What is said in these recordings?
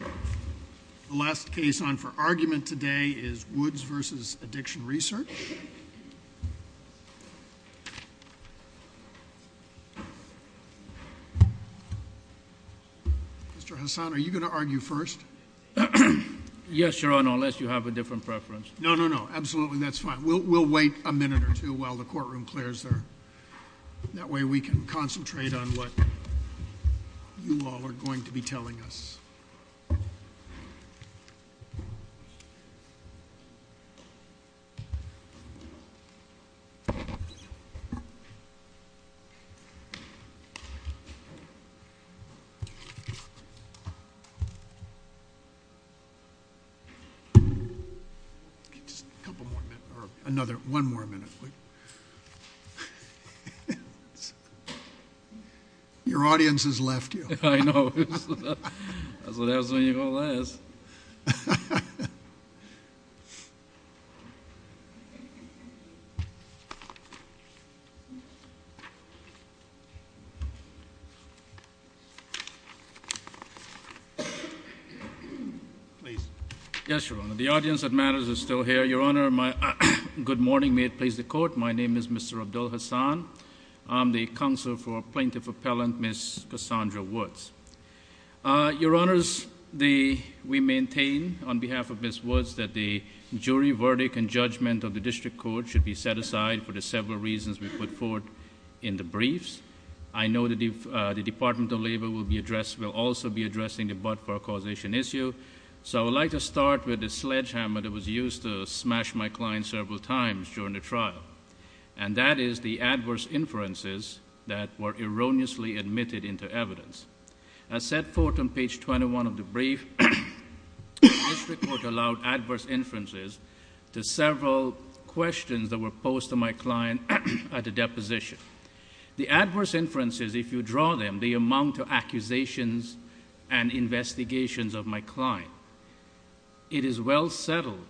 The last case on for argument today is Woods v. Addiction Research. Mr. Hassan, are you going to argue first? Yes, Your Honor, unless you have a different preference. No, no, no, absolutely, that's fine. We'll wait a minute or two while the courtroom clears there. That way we can concentrate on what you all are going to be telling us. Just a couple, one more minute. Your audience has left you. I know. That's when you're going to last. Yes, Your Honor, the audience that matters is still here. Your Honor, my good morning. May it please the Court, my name is Mr. Abdul Hassan. I'm the counsel for Plaintiff Appellant Ms. Cassandra Woods. Your Honors, we maintain on behalf of Ms. Woods that the jury verdict and judgment of the district court should be set aside for the several reasons we put forward in the briefs. I know that the Department of Labor will also be addressing the butt for causation issue, so I would like to start with the sledgehammer that was used to smash my client several times during the trial, and that is the adverse inferences that were erroneously admitted into evidence. As set forth on page 21 of the brief, this report allowed adverse inferences to several questions that were posed to my client at the deposition. The adverse inferences, if you draw them, they amount to accusations and investigations of my client. It is well settled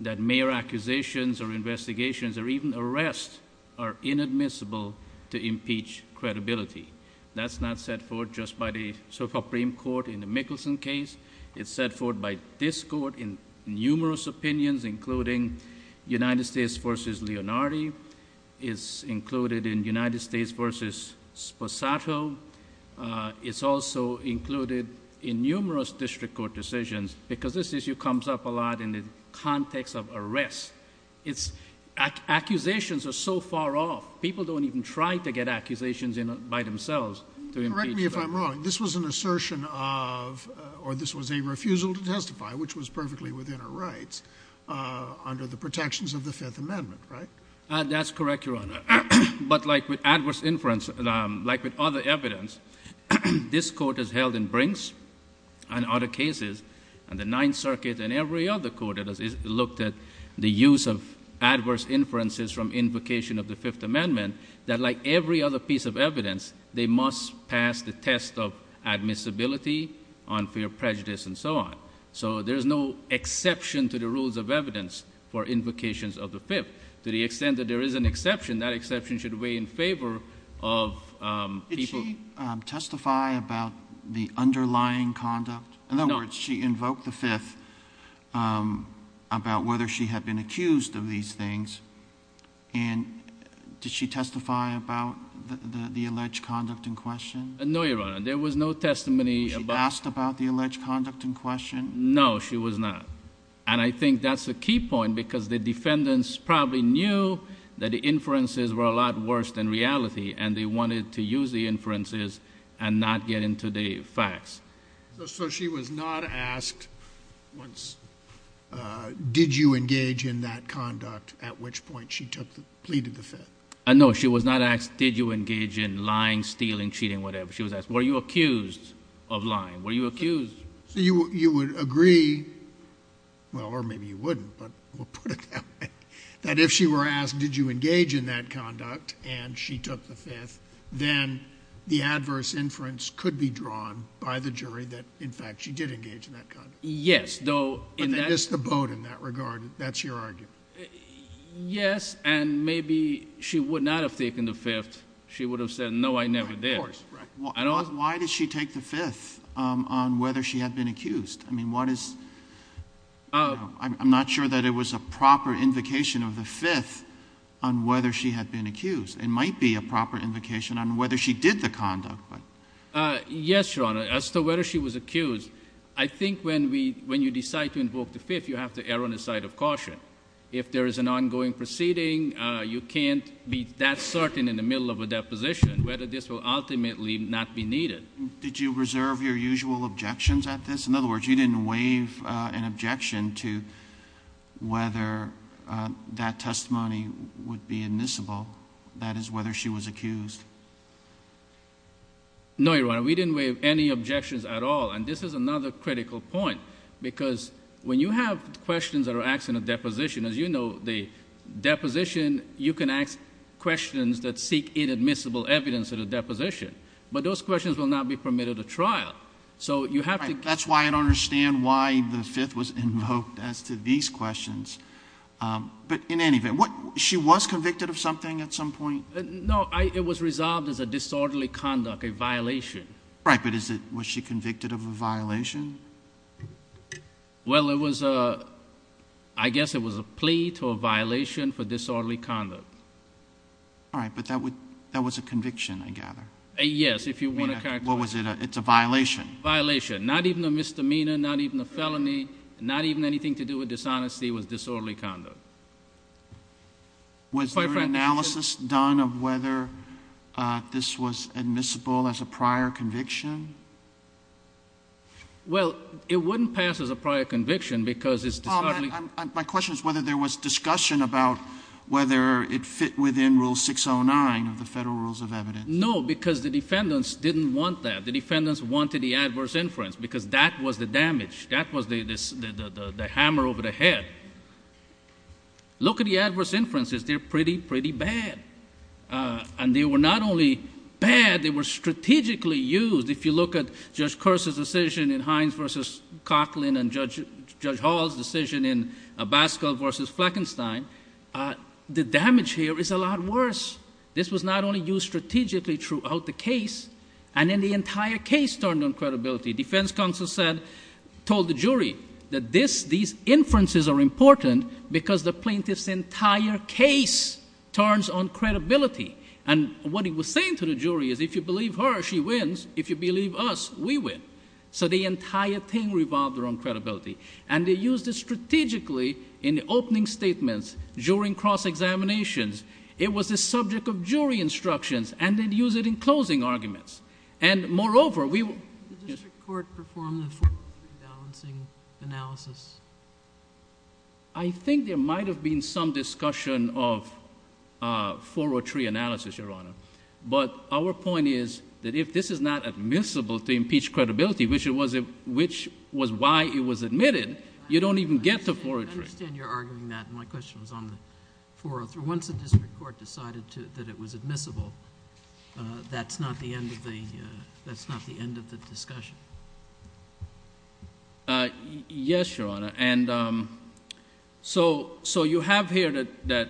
that mere accusations or investigations or even arrests are inadmissible to impeach credibility. That's not set forth just by the Supreme Court in the Mickelson case. It's set forth by this court in numerous opinions, including United States v. Leonardi. It's included in United States v. Sposato. It's also included in numerous district court decisions because this issue comes up a lot in the context of arrests. Accusations are so far off. People don't even try to get accusations by themselves to impeach them. Correct me if I'm wrong. This was an assertion of, or this was a refusal to testify, which was perfectly within our rights under the protections of the Fifth Amendment, right? That's correct, Your Honor. But like with other evidence, this court has held in Brinks and other cases, and the Ninth Circuit and every other court that has looked at the use of adverse inferences from invocation of the Fifth Amendment, that like every other piece of evidence, they must pass the test of admissibility, unfair prejudice, and so on. So there's no exception to the rules of evidence for invocations of the Fifth. To the extent that there is an exception, that exception should weigh in favor of people. Did she testify about the underlying conduct? No. In other words, she invoked the Fifth about whether she had been accused of these things. And did she testify about the alleged conduct in question? No, Your Honor. There was no testimony about— Was she asked about the alleged conduct in question? No, she was not. And I think that's a key point because the defendants probably knew that the inferences were a lot worse than reality, and they wanted to use the inferences and not get into the facts. So she was not asked, did you engage in that conduct at which point she pleaded the Fifth? No, she was not asked, did you engage in lying, stealing, cheating, whatever. She was asked, were you accused of lying? Were you accused? So you would agree—well, or maybe you wouldn't, but we'll put it that way—that if she were asked, did you engage in that conduct, and she took the Fifth, then the adverse inference could be drawn by the jury that, in fact, she did engage in that conduct. Yes, though— But they missed the boat in that regard. That's your argument. Yes, and maybe she would not have taken the Fifth. She would have said, no, I never did. Why did she take the Fifth on whether she had been accused? I mean, what is—I'm not sure that it was a proper invocation of the Fifth on whether she had been accused. It might be a proper invocation on whether she did the conduct. Yes, Your Honor, as to whether she was accused, I think when you decide to invoke the Fifth, you have to err on the side of caution. If there is an ongoing proceeding, you can't be that needed. Did you reserve your usual objections at this? In other words, you didn't waive an objection to whether that testimony would be admissible, that is, whether she was accused. No, Your Honor, we didn't waive any objections at all, and this is another critical point, because when you have questions that are asked in a deposition, as you know, the deposition, you can ask questions that seek inadmissible evidence at a deposition. Those questions will not be permitted at trial, so you have to— That's why I don't understand why the Fifth was invoked as to these questions. But in any event, she was convicted of something at some point? No, it was resolved as a disorderly conduct, a violation. Right, but was she convicted of a violation? Well, I guess it was a plea to a violation for disorderly conduct. All right, but that was a conviction, I gather. Yes, if you want to characterize— What was it? It's a violation? Violation. Not even a misdemeanor, not even a felony, not even anything to do with dishonesty, it was disorderly conduct. Was there an analysis done of whether this was admissible as a prior conviction? Well, it wouldn't pass as a prior conviction because it's disorderly— My question is whether there was discussion about whether it fit within Rule 609 of the Federal Rules of Evidence. No, because the defendants didn't want that. The defendants wanted the adverse inference because that was the damage. That was the hammer over the head. Look at the adverse inferences. They're pretty, pretty bad. And they were not only bad, they were strategically used. If you look at Judge Kerr's decision in Hines versus Coughlin and Judge Hall's decision in Abascal versus Fleckenstein, the damage here is a lot worse. This was not only used strategically throughout the case, and then the entire case turned on credibility. Defense counsel said, told the jury that these inferences are important because the plaintiff's entire case turns on credibility. And what he was saying to the jury is if you believe her, she wins. If you believe us, we win. So the entire thing revolved around credibility. And they used it strategically in the opening statements during cross-examinations. It was the subject of jury instructions. And they'd use it in closing arguments. And moreover, we were... The district court performed a 403 balancing analysis. I think there might have been some discussion of 403 analysis, Your Honor. But our point is that if this is not admissible to impeach credibility, which was why it was admitted, you don't even get the 403. I understand you're arguing that. My question was on the 403. For once the district court decided that it was admissible, that's not the end of the discussion. Yes, Your Honor. And so you have here that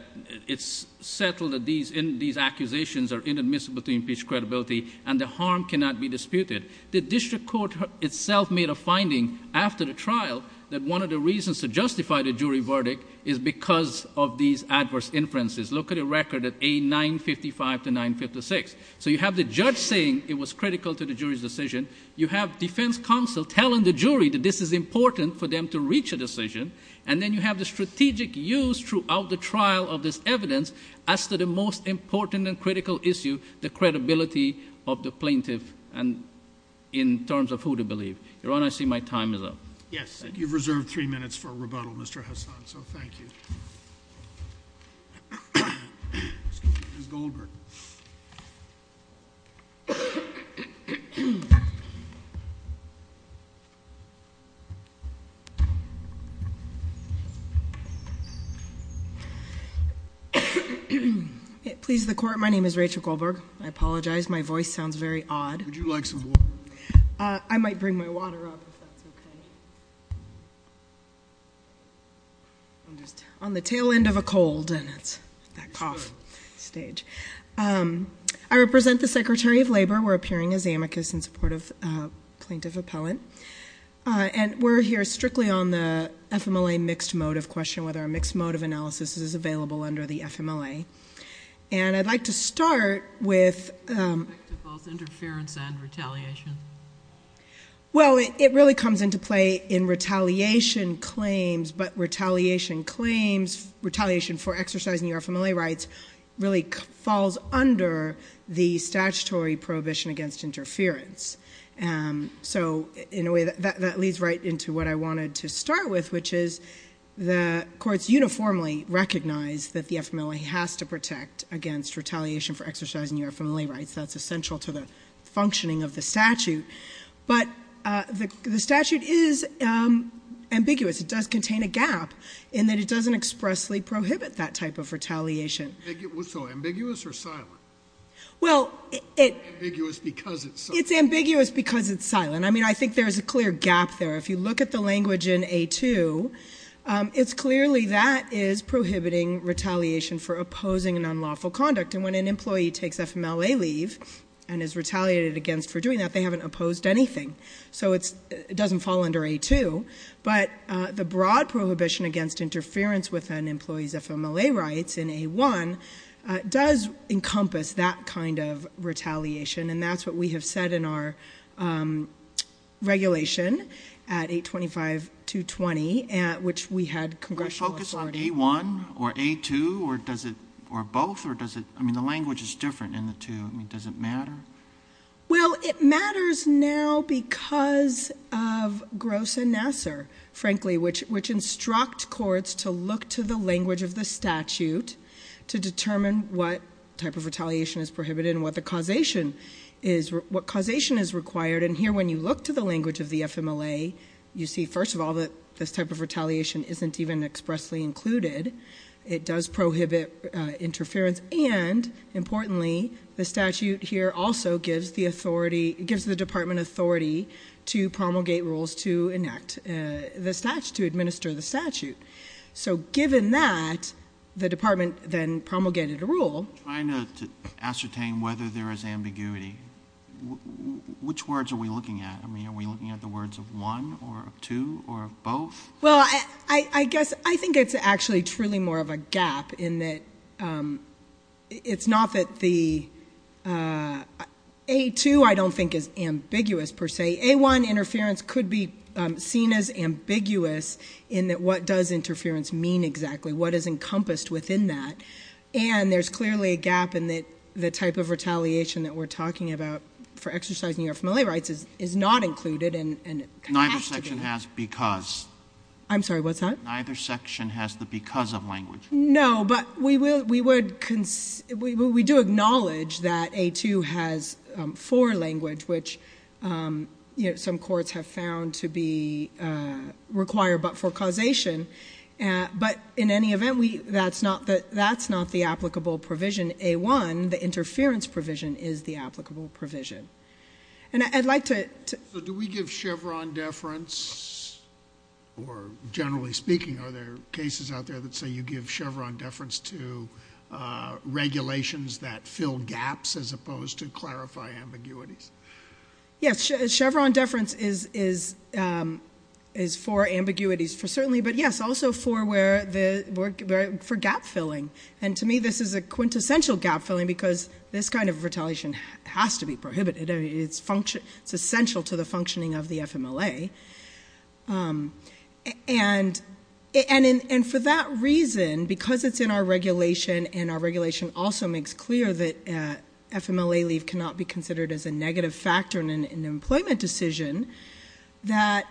it's settled that these accusations are inadmissible to impeach credibility, and the harm cannot be disputed. The district court itself made a finding after the trial that one of the reasons to justify the jury verdict is because of these adverse inferences. Look at the record at A. 955 to 956. So you have the judge saying it was critical to the jury's decision. You have defense counsel telling the jury that this is important for them to reach a decision. And then you have the strategic use throughout the trial of this evidence as to the most important and critical issue, the credibility of the plaintiff in terms of who to believe. Your Honor, I see my time is up. Yes. You've reserved three minutes for rebuttal, Mr. Hassan. So thank you. Ms. Goldberg. Please, the court. My name is Rachel Goldberg. I apologize. My voice sounds very odd. Would you like some water? I might bring my water up, if that's OK. On the tail end of a cold, and it's that cough stage. I represent the Secretary of Labor. We're appearing as amicus in support of plaintiff appellant. And we're here strictly on the FMLA mixed motive question, whether a mixed motive analysis is available under the FMLA. And I'd like to start with- With respect to both interference and retaliation. Well, it really comes into play in retaliation claims. But retaliation claims, retaliation for exercising your FMLA rights, really falls under the statutory prohibition against interference. So in a way, that leads right into what I wanted to start with, which is the courts uniformly recognize that the FMLA has to protect against retaliation for exercising your FMLA rights. That's essential to the functioning of the statute. But the statute is ambiguous. It does contain a gap in that it doesn't expressly prohibit that type of retaliation. So ambiguous or silent? Well, it's ambiguous because it's silent. I mean, I think there's a clear gap there. If you look at the language in A2, it's clearly that is prohibiting retaliation for opposing an unlawful conduct. And when an employee takes FMLA leave and is retaliated against for doing that, they haven't opposed anything. So it doesn't fall under A2. But the broad prohibition against interference with an employee's FMLA rights in A1 does encompass that kind of retaliation. And that's what we have said in our regulation at 825-220, which we had congressional authority. Does it focus on A1 or A2, or both, or does it? I mean, the language is different in the two. Does it matter? Well, it matters now because of Gross and Nassar, frankly, which instruct courts to look to the language of the statute to determine what type of retaliation is prohibited and what causation is required. And here, when you look to the language of the FMLA, you see, first of all, that this type of retaliation isn't even expressly included. It does prohibit interference. And, importantly, the statute here also gives the department authority to promulgate rules to enact the statute, to administer the statute. So given that, the department then promulgated a rule. Trying to ascertain whether there is ambiguity, which words are we looking at? I mean, are we looking at the words of one, or of two, or of both? Well, I guess I think it's actually truly more of a gap in that it's not that the A2, I don't think, is ambiguous, per se. A1 interference could be seen as ambiguous in that what does interference mean exactly? What is encompassed within that? And there's clearly a gap in that the type of retaliation that we're talking about for exercising your FMLA rights is not included. And it has to be. Neither section has because. I'm sorry, what's that? Neither section has the because of language. No, but we do acknowledge that A2 has for language, which some courts have found to be required, but for causation. But in any event, that's not the applicable provision. A1, the interference provision, is the applicable provision. And I'd like to. So do we give Chevron deference? Or generally speaking, are there cases out there that say you give Chevron deference to regulations that fill gaps, as opposed to clarify ambiguities? Yes, Chevron deference is for ambiguities, certainly. But yes, also for gap filling. And to me, this is a quintessential gap filling because this kind of retaliation has to be prohibited. It's essential to the functioning of the FMLA. And for that reason, because it's in our regulation and our regulation also makes clear that FMLA leave cannot be considered as a negative factor in an employment decision, that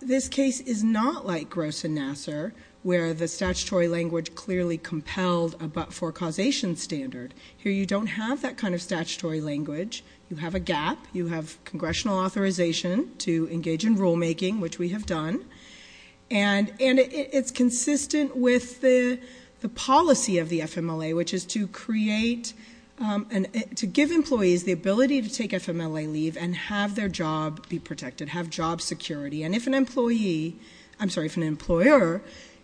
this case is not like Gross and Nassar, where the statutory language clearly compelled a but-for causation standard. Here, you don't have that kind of statutory language. You have a gap. You have congressional authorization to engage in rulemaking, which we have done. And it's consistent with the policy of the FMLA, which is to give employees the ability to take FMLA leave and have their job be protected, have job security. And if an employee, I'm sorry, if an employer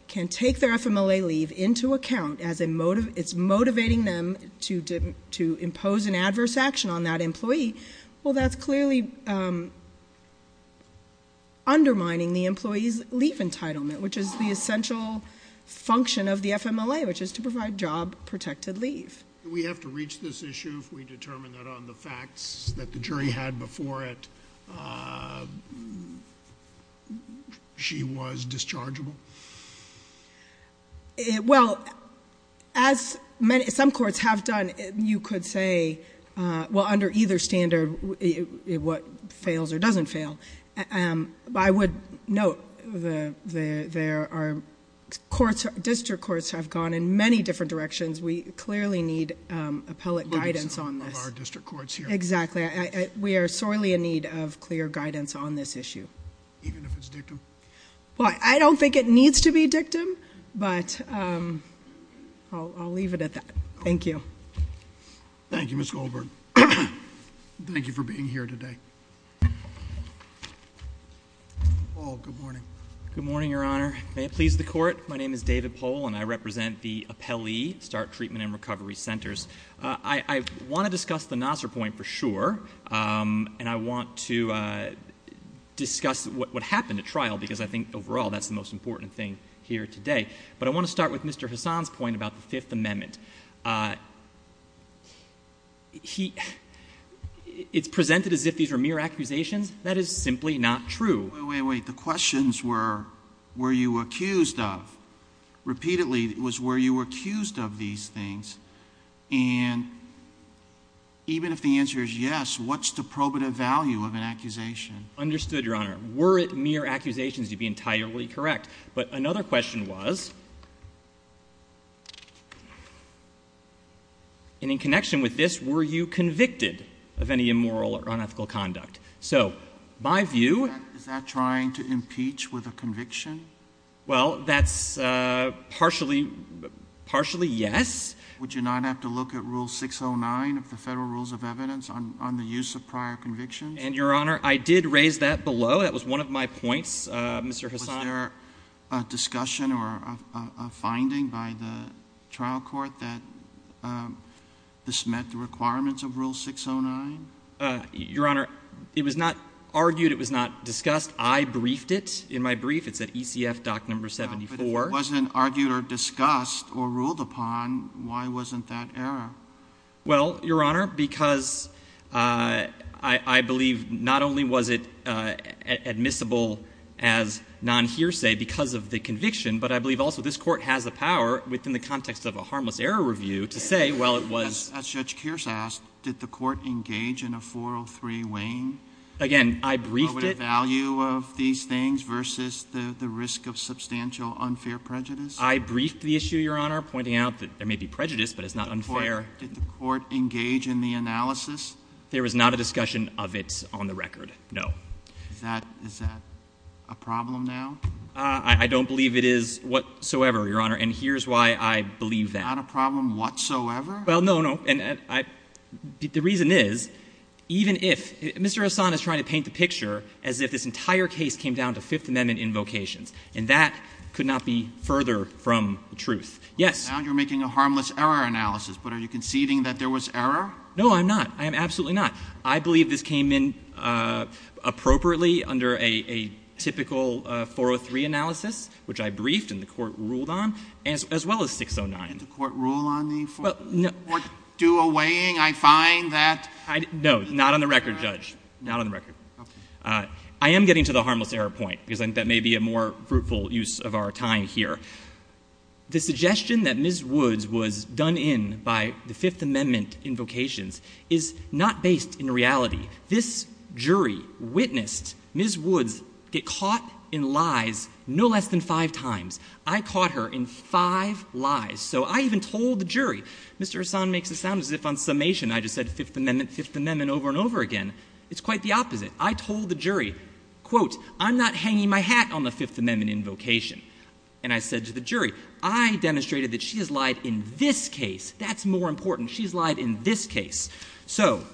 can take their FMLA leave into account, it's motivating them to impose an adverse action on that employee, well, that's clearly undermining the employee's leave entitlement, which is the essential function of the FMLA, which is to provide job-protected leave. Do we have to reach this issue if we determine that on the facts that the jury had before it, she was dischargeable? Well, as some courts have done, you could say, well, under either standard, what fails or doesn't fail. I would note there are courts, district courts, have gone in many different directions. We clearly need appellate guidance on this. Of our district courts here. Exactly. We are sorely in need of clear guidance on this issue. Even if it's dictum? Well, I don't think it needs to be dictum, but I'll leave it at that. Thank you. Thank you, Ms. Goldberg. Thank you for being here today. Paul, good morning. Good morning, Your Honor. May it please the court, my name is David Pohl, and I represent the Appellee Start Treatment and Recovery Centers. I want to discuss the Nassar point for sure, and I want to discuss what happened at trial, because I think overall, that's the most important thing here today. But I want to start with Mr. Hassan's point about the Fifth Amendment. It's presented as if these were mere accusations. That is simply not true. Wait, wait, wait. The questions were, were you accused of? Repeatedly, it was were you accused of these things? And even if the answer is yes, what's the probative value of an accusation? Understood, Your Honor. Were it mere accusations, you'd be entirely correct. But another question was, and in connection with this, were you convicted of any immoral or unethical conduct? So my view. Is that trying to impeach with a conviction? Well, that's partially yes. Would you not have to look at Rule 609 of the Federal Rules of Evidence on the use of prior convictions? And Your Honor, I did raise that below. That was one of my points, Mr. Hassan. Was there a discussion or a finding by the trial court that this met the requirements of Rule 609? Your Honor, it was not argued. It was not discussed. I briefed it in my brief. It's at ECF Doc Number 74. If it wasn't argued or discussed or ruled upon, why wasn't that error? Well, Your Honor, because I believe not only was it admissible as non-hearsay because of the conviction, but I believe also this court has the power within the context of a harmless error review to say, well, it was. As Judge Kearse asked, did the court engage in a 403 waning? Again, I briefed it. What were the value of these things versus the risk of substantial unfair prejudice? I briefed the issue, Your Honor, pointing out that there may be prejudice, but it's not unfair. Did the court engage in the analysis? There was not a discussion of it on the record, no. Is that a problem now? I don't believe it is whatsoever, Your Honor. And here's why I believe that. Not a problem whatsoever? Well, no, no. The reason is, even if Mr. Hassan is trying to paint the picture as if this entire case came down to Fifth Amendment invocations, and that could not be further from the truth. Yes? Now you're making a harmless error analysis, but are you conceding that there was error? No, I'm not. I am absolutely not. I believe this came in appropriately under a typical 403 analysis, which I briefed and the court ruled on, as well as 609. Did the court rule on the 403? Well, no. Did the court do a waning? I find that. No, not on the record, Judge. Not on the record. I am getting to the harmless error point, because I think that may be a more fruitful use of our time here. The suggestion that Ms. Woods was done in by the Fifth Amendment invocations is not based in reality. This jury witnessed Ms. Woods get caught in lies no less than five times. I caught her in five lies. So I even told the jury. Mr. Hassan makes it sound as if on summation, I just said Fifth Amendment, Fifth Amendment over and over again. It's quite the opposite. I told the jury, quote, I'm not hanging my hat on the Fifth Amendment invocation. And I said to the jury, I demonstrated that she has lied in this case. That's more important. She's lied in this case. So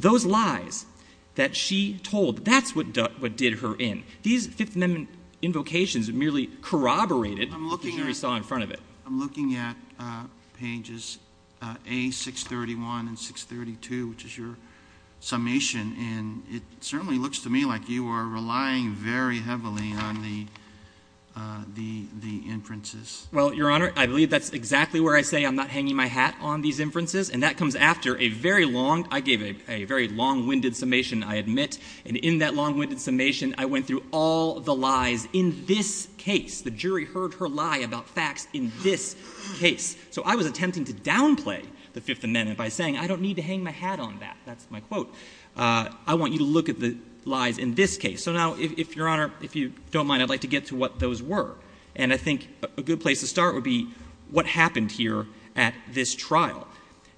those lies that she told, that's what did her in. These Fifth Amendment invocations merely corroborated what the jury saw in front of it. I'm looking at pages A631 and 632, which is your summation. And it certainly looks to me like you are relying very heavily on the inferences. Well, Your Honor, I believe that's exactly where I say I'm not hanging my hat on these inferences. And that comes after a very long, I gave a very long-winded summation, I admit. And in that long-winded summation, I went through all the lies in this case. The jury heard her lie about facts in this case. So I was attempting to downplay the Fifth Amendment by saying, I don't need to hang my hat on that. That's my quote. I want you to look at the lies in this case. So now, if Your Honor, if you don't mind, I'd like to get to what those were. And I think a good place to start would be what happened here at this trial.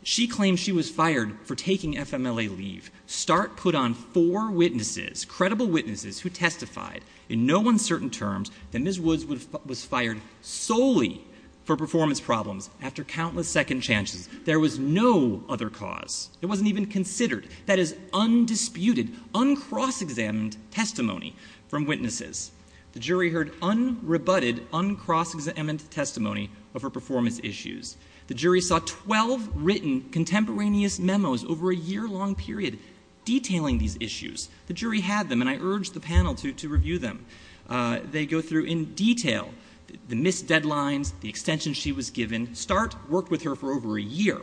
She claims she was fired for taking FMLA leave. Start put on four witnesses, credible witnesses, who testified in no uncertain terms that Ms. Woods was fired solely for performance problems after countless second chances. There was no other cause. It wasn't even considered. That is undisputed, uncross-examined testimony from witnesses. The jury heard unrebutted, uncross-examined testimony of her performance issues. The jury saw 12 written contemporaneous memos over a year-long period detailing these issues. The jury had them, and I urged the panel to review them. They go through in detail the missed deadlines, the extension she was given. Start worked with her for over a year.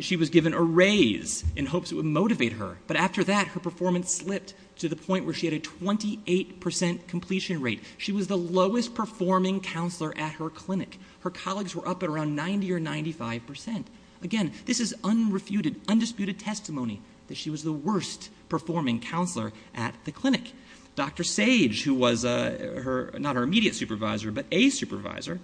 She was given a raise in hopes it would motivate her. But after that, her performance slipped to the point where she had a 28% completion rate. She was the lowest performing counselor at her clinic. Her colleagues were up at around 90 or 95%. Again, this is unrefuted, undisputed testimony that she was the worst performing counselor at the clinic. Dr. Sage, who was not her immediate supervisor, but a supervisor,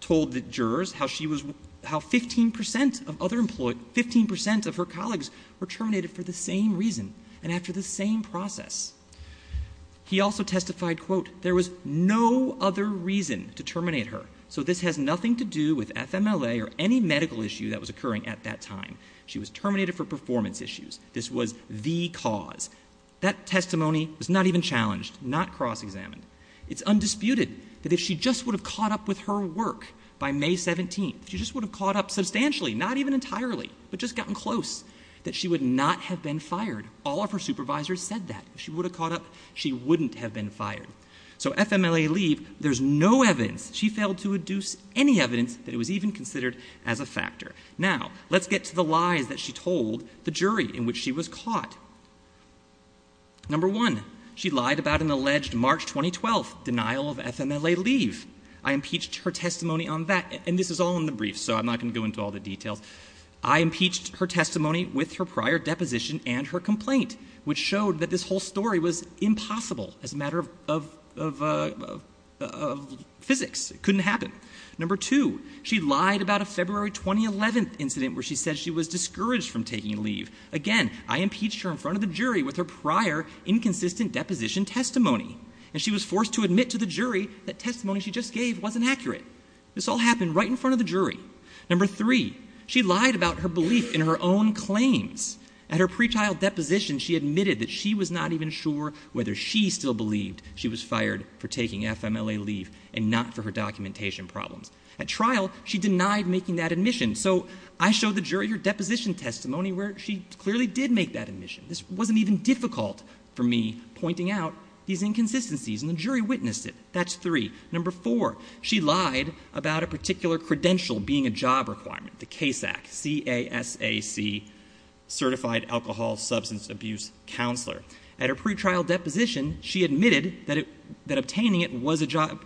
told the jurors how 15% of other employees, 15% of her colleagues were terminated for the same reason and after the same process. He also testified, quote, there was no other reason to terminate her. So this has nothing to do with FMLA or any medical issue that was occurring at that time. She was terminated for performance issues. This was the cause. That testimony was not even challenged, not cross-examined. It's undisputed that if she just would have caught up with her work by May 17th, she just would have caught up substantially, not even entirely, but just gotten close, that she would not have been fired. All of her supervisors said that. If she would have caught up, she wouldn't have been fired. So FMLA leave, there's no evidence. She failed to induce any evidence that it was even considered as a factor. Now, let's get to the lies that she told the jury in which she was caught. Number one, she lied about an alleged March 2012 denial of FMLA leave. I impeached her testimony on that, and this is all in the brief, so I'm not gonna go into all the details. I impeached her testimony with her prior deposition and her complaint, which showed that this whole story was impossible as a matter of physics. It couldn't happen. Number two, she lied about a February 2011 incident where she said she was discouraged from taking leave. Again, I impeached her in front of the jury with her prior inconsistent deposition testimony, and she was forced to admit to the jury that testimony she just gave wasn't accurate. This all happened right in front of the jury. Number three, she lied about her belief in her own claims. At her pretrial deposition, she admitted that she was not even sure whether she still believed she was fired for taking FMLA leave and not for her documentation problems. At trial, she denied making that admission. So I showed the jury her deposition testimony where she clearly did make that admission. This wasn't even difficult for me pointing out these inconsistencies, and the jury witnessed it. Number four, she lied about a particular credential being a job requirement, the CASAC, C-A-S-A-C, Certified Alcohol Substance Abuse Counselor. At her pretrial deposition, she admitted that obtaining it was a job,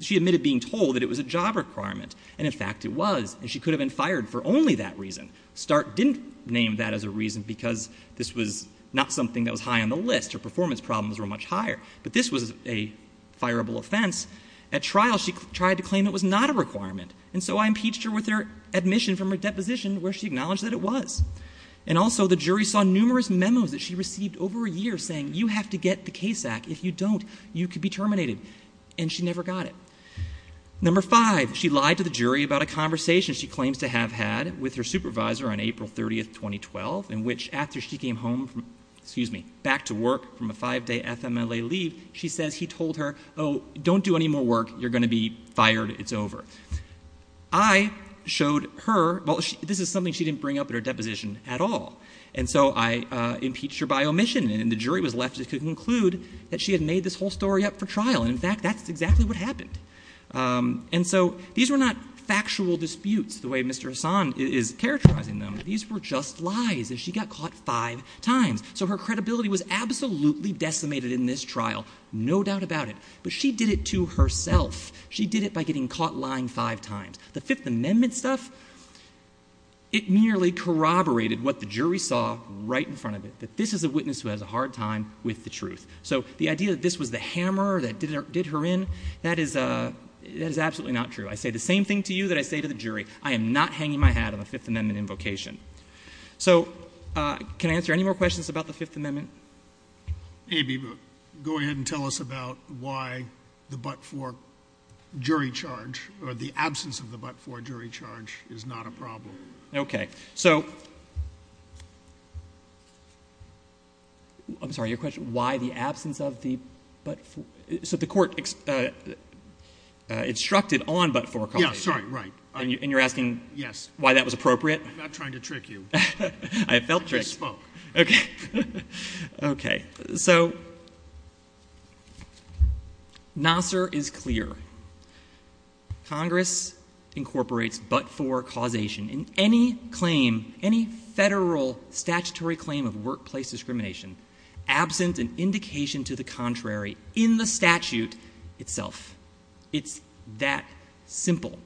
she admitted being told that it was a job requirement, and in fact it was, and she could have been fired for only that reason. Stark didn't name that as a reason because this was not something that was high on the list. Her performance problems were much higher, but this was a fireable offense. At trial, she tried to claim it was not a requirement, and so I impeached her with her admission from her deposition where she acknowledged that it was. And also, the jury saw numerous memos that she received over a year saying, you have to get the CASAC. If you don't, you could be terminated, and she never got it. Number five, she lied to the jury about a conversation she claims to have had with her supervisor on April 30th, 2012, in which after she came home from, excuse me, back to work from a five-day FMLA leave, she says he told her, oh, don't do any more work, you're gonna be fired, it's over. I showed her, well, this is something she didn't bring up in her deposition at all, and so I impeached her by omission, and the jury was left to conclude that she had made this whole story up for trial, and in fact, that's exactly what happened. And so, these were not factual disputes the way Mr. Hassan is characterizing them. These were just lies, and she got caught five times. So her credibility was absolutely decimated in this trial, no doubt about it, but she did it to herself. She did it by getting caught lying five times. The Fifth Amendment stuff, it merely corroborated what the jury saw right in front of it, that this is a witness who has a hard time with the truth. So the idea that this was the hammer that did her in, that is absolutely not true. I say the same thing to you that I say to the jury, I am not hanging my hat on the Fifth Amendment invocation. So, can I answer any more questions about the Fifth Amendment? Maybe, but go ahead and tell us about why the but-for jury charge, or the absence of the but-for jury charge is not a problem. Okay, so, I'm sorry, your question, why the absence of the but-for, so the court instructed on but-for copy. Yeah, sorry, right. And you're asking why that was appropriate? I'm not trying to trick you. I felt tricked. I just spoke. Okay, okay, so, Nasser is clear. Congress incorporates but-for causation in any claim, any federal statutory claim of workplace discrimination, absent an indication to the contrary in the statute itself. It's that simple.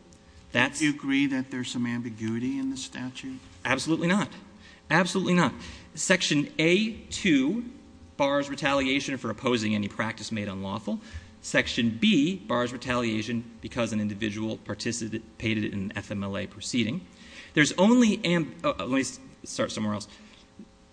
That's. Do you agree that there's some ambiguity in the statute? Absolutely not. Absolutely not. Section A-2 bars retaliation for opposing any practice made unlawful. Section B bars retaliation because an individual participated in an FMLA proceeding. There's only, let me start somewhere else.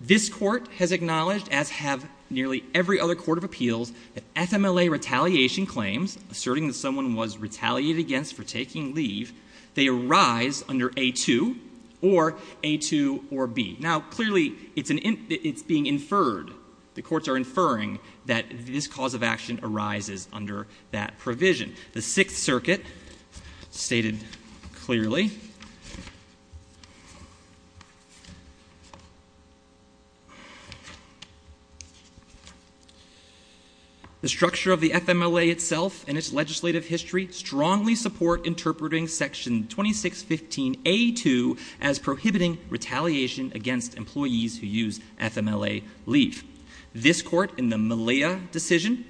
This court has acknowledged, as have nearly every other court of appeals, that FMLA retaliation claims, asserting that someone was retaliated against for taking leave, they arise under A-2 or A-2 or B. Now, clearly, it's being inferred. The courts are inferring that this cause of action arises under that provision. The Sixth Circuit stated clearly. The structure of the FMLA itself and its legislative history strongly support interpreting section 2615 A-2 as prohibiting retaliation against employees who use FMLA leave. This court, in the Malia decision,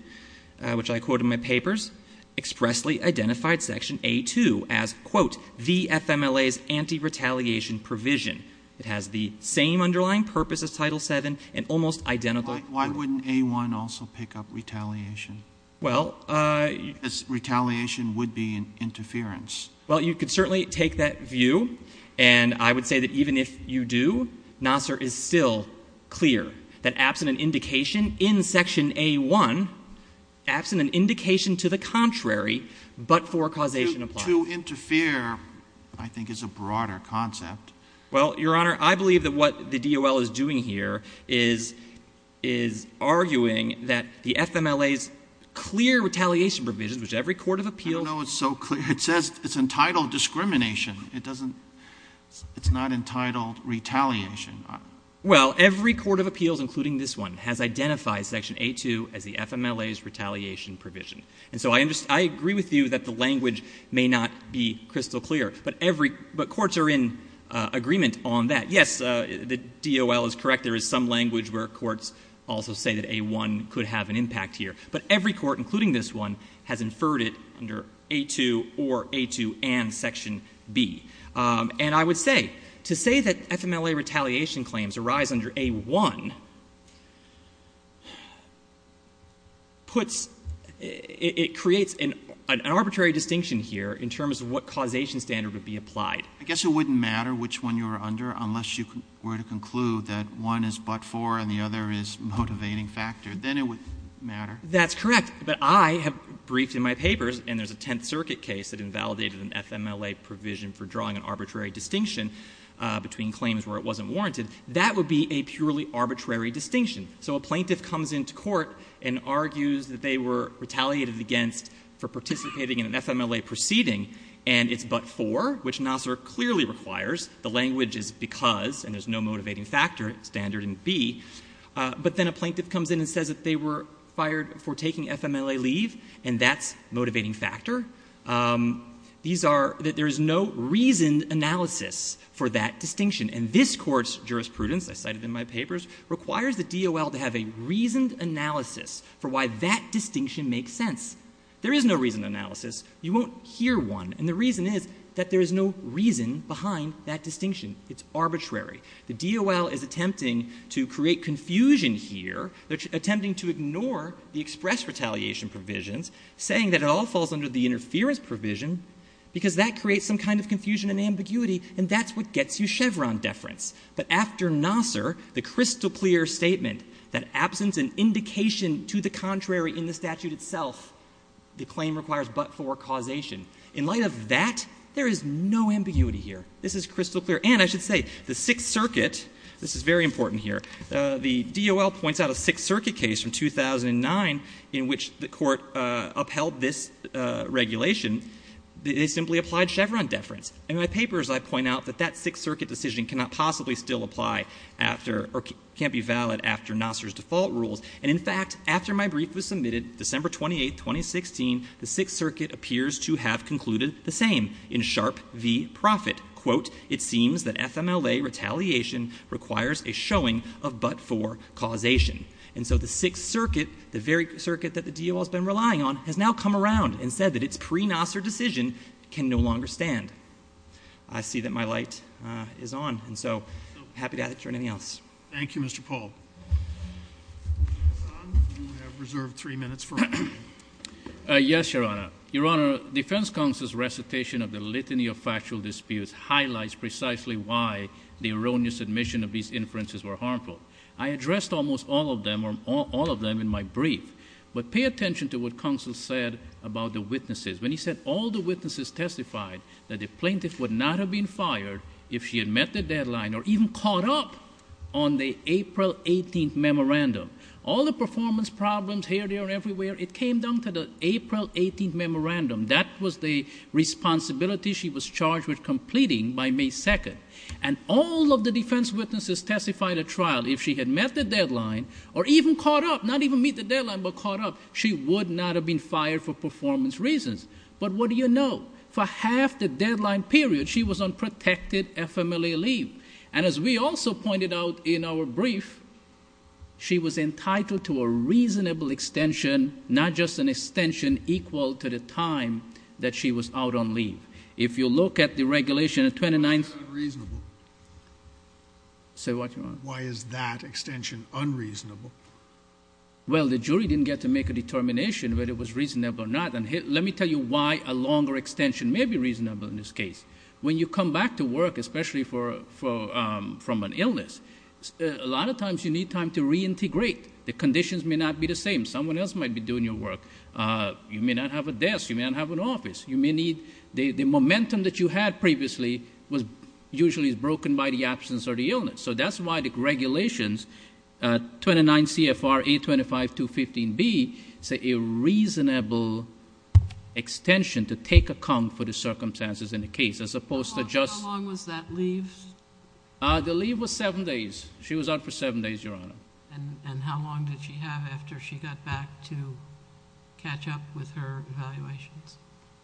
which I quote in my papers, expressly identified section A-2 as, quote, the FMLA's anti-retaliation provision. It has the same underlying purpose as Title VII and almost identical. Why wouldn't A-1 also pick up retaliation? Well, uh... Because retaliation would be an interference. Well, you could certainly take that view, and I would say that even if you do, Nassar is still clear that absent an indication in section A-1, absent an indication to the contrary, but for causation applied. To interfere, I think, is a broader concept. Well, Your Honor, I believe that what the DOL is doing here is arguing that the FMLA's clear retaliation provision, which every court of appeals... I don't know it's so clear. It says it's entitled discrimination. It doesn't... It's not entitled retaliation. Well, every court of appeals, including this one, has identified section A-2 as the FMLA's retaliation provision. And so I agree with you that the language may not be crystal clear, but courts are in agreement on that. Yes, the DOL is correct. There is some language where courts also say that A-1 could have an impact here, but every court, including this one, has inferred it under A-2 or A-2 and section B. And I would say, to say that FMLA retaliation claims arise under A-1 puts... It creates an arbitrary distinction here in terms of what causation standard would be applied. I guess it wouldn't matter which one you were under unless you were to conclude that one is but-for and the other is motivating factor. Then it would matter. That's correct. But I have briefed in my papers, and there's a Tenth Circuit case that invalidated an FMLA provision for drawing an arbitrary distinction between claims where it wasn't warranted. That would be a purely arbitrary distinction. So a plaintiff comes into court and argues that they were retaliated against for participating in an FMLA proceeding, and it's but-for, which Nassar clearly requires. The language is because, and there's no motivating factor standard in B. But then a plaintiff comes in and says that they were fired for taking FMLA leave, and that's motivating factor. These are that there is no reasoned analysis for that distinction. And this court's jurisprudence, I cited in my papers, requires the DOL to have a reasoned analysis for why that distinction makes sense. There is no reasoned analysis. You won't hear one. And the reason is that there is no reason behind that distinction. It's arbitrary. The DOL is attempting to create confusion here. They're attempting to ignore the express retaliation provisions, saying that it all falls under the interference provision because that creates some kind of confusion and ambiguity, and that's what gets you Chevron deference. But after Nassar, the crystal clear statement that absence and indication to the contrary in the statute itself, the claim requires but-for causation. In light of that, there is no ambiguity here. This is crystal clear. And I should say, the Sixth Circuit, this is very important here, the DOL points out a Sixth Circuit case from 2009 in which the court upheld this regulation. They simply applied Chevron deference. In my papers, I point out that that Sixth Circuit decision cannot possibly still apply after, or can't be valid after Nassar's default rules. And in fact, after my brief was submitted, December 28th, 2016, the Sixth Circuit appears to have concluded the same in Sharpe v. Profitt. Quote, it seems that FMLA retaliation requires a showing of but-for causation. And so the Sixth Circuit, the very circuit that the DOL has been relying on, has now come around and said that it's pre-Nassar decision can no longer stand. I see that my light is on, and so happy to answer anything else. Thank you, Mr. Paul. Mr. Hassan, you have reserved three minutes for... Yes, Your Honor. Your Honor, Defense Counsel's recitation of the litany of factual disputes highlights precisely why the erroneous admission of these inferences were harmful. I addressed almost all of them, or all of them in my brief. But pay attention to what Counsel said about the witnesses. When he said all the witnesses testified that the plaintiff would not have been fired if she had met the deadline, or even caught up on the April 18th memorandum. All the performance problems here, there, and everywhere it came down to the April 18th memorandum. That was the responsibility she was charged with completing by May 2nd. And all of the defense witnesses testified at trial, if she had met the deadline, or even caught up, not even meet the deadline, but caught up, she would not have been fired for performance reasons. But what do you know? For half the deadline period, she was on protected FMLA leave. And as we also pointed out in our brief, she was entitled to a reasonable extension, not just an extension equal to the time that she was out on leave. If you look at the regulation of 29th. Why is that unreasonable? Say what, Your Honor? Why is that extension unreasonable? Well, the jury didn't get to make a determination whether it was reasonable or not. And let me tell you why a longer extension may be reasonable in this case. When you come back to work, especially from an illness, a lot of times you need time to reintegrate. The conditions may not be the same. Someone else might be doing your work. You may not have a desk, you may not have an office. You may need, the momentum that you had previously was usually broken by the absence or the illness. So that's why the regulations, 29 CFR 825.215B, say a reasonable extension to take account for the circumstances in the case, as opposed to just- How long was that leave? The leave was seven days. She was out for seven days, Your Honor. And how long did she have after she got back to catch up with her evaluations?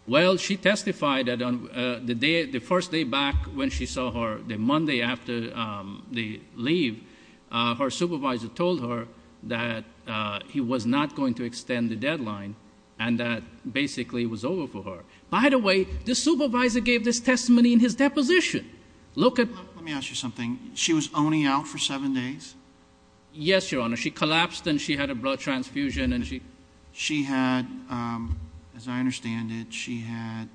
Well, she testified that on the first day back when she saw her, the Monday after the leave, her supervisor told her that he was not going to extend the deadline, and that basically it was over for her. By the way, the supervisor gave this testimony in his deposition. Look at- Let me ask you something. She was only out for seven days? Yes, Your Honor. She collapsed and she had a blood transfusion and she- She had, as I understand it, she had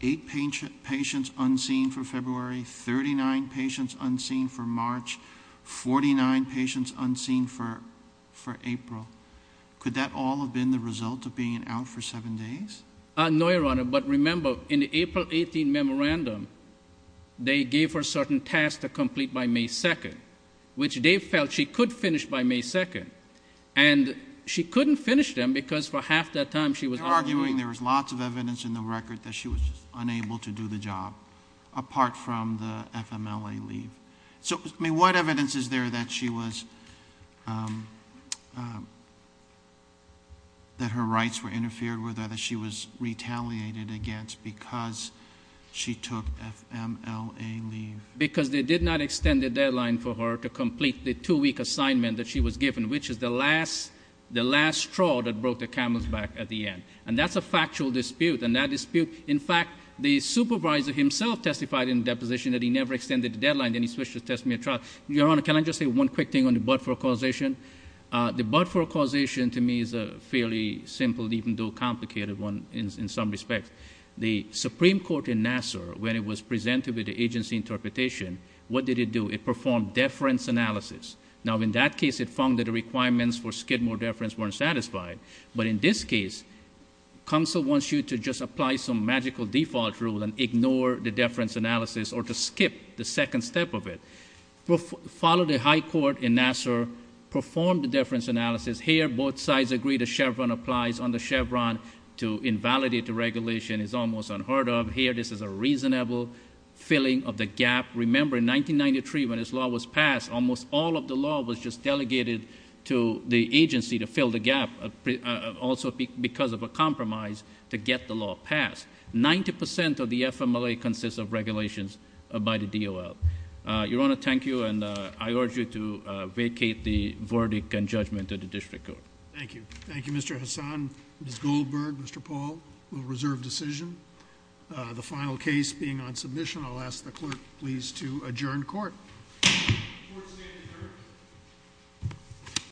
eight patients unseen for February, 39 patients unseen for March, 49 patients unseen for April. Could that all have been the result of being out for seven days? No, Your Honor, but remember, in the April 18 memorandum, they gave her certain tasks to complete by May 2nd, which they felt she could finish by May 2nd, and she couldn't finish them because for half that time she was- You're arguing there was lots of evidence in the record that she was just unable to do the job, apart from the FMLA leave. So, I mean, what evidence is there that she was, that her rights were interfered with or that she was retaliated against because she took FMLA leave? Because they did not extend the deadline for her to complete the two-week assignment that she was given, which is the last straw that broke the camel's back at the end. And that's a factual dispute. And that dispute, in fact, the supervisor himself testified in the deposition that he never extended the deadline, then he switched to testimony trial. Your Honor, can I just say one quick thing on the Budford causation? The Budford causation, to me, is a fairly simple, even though complicated one in some respects. The Supreme Court in Nassau, when it was presented with the agency interpretation, what did it do? It performed deference analysis. Now, in that case, it found that the requirements for skid more deference weren't satisfied. But in this case, counsel wants you to just apply some magical default rule and ignore the deference analysis or to skip the second step of it. Follow the high court in Nassau, perform the deference analysis. Here, both sides agree the Chevron applies on the Chevron to invalidate the regulation is almost unheard of. Here, this is a reasonable filling of the gap. Remember, in 1993, when this law was passed, almost all of the law was just delegated to the agency to fill the gap, also because of a compromise to get the law passed. 90% of the FMLA consists of regulations by the DOL. Your Honor, thank you, and I urge you to vacate the verdict and judgment of the district court. Thank you. Thank you, Mr. Hassan, Ms. Goldberg, Mr. Paul. We'll reserve decision. The final case being on submission, I'll ask the clerk, please, to adjourn court. Court is adjourned.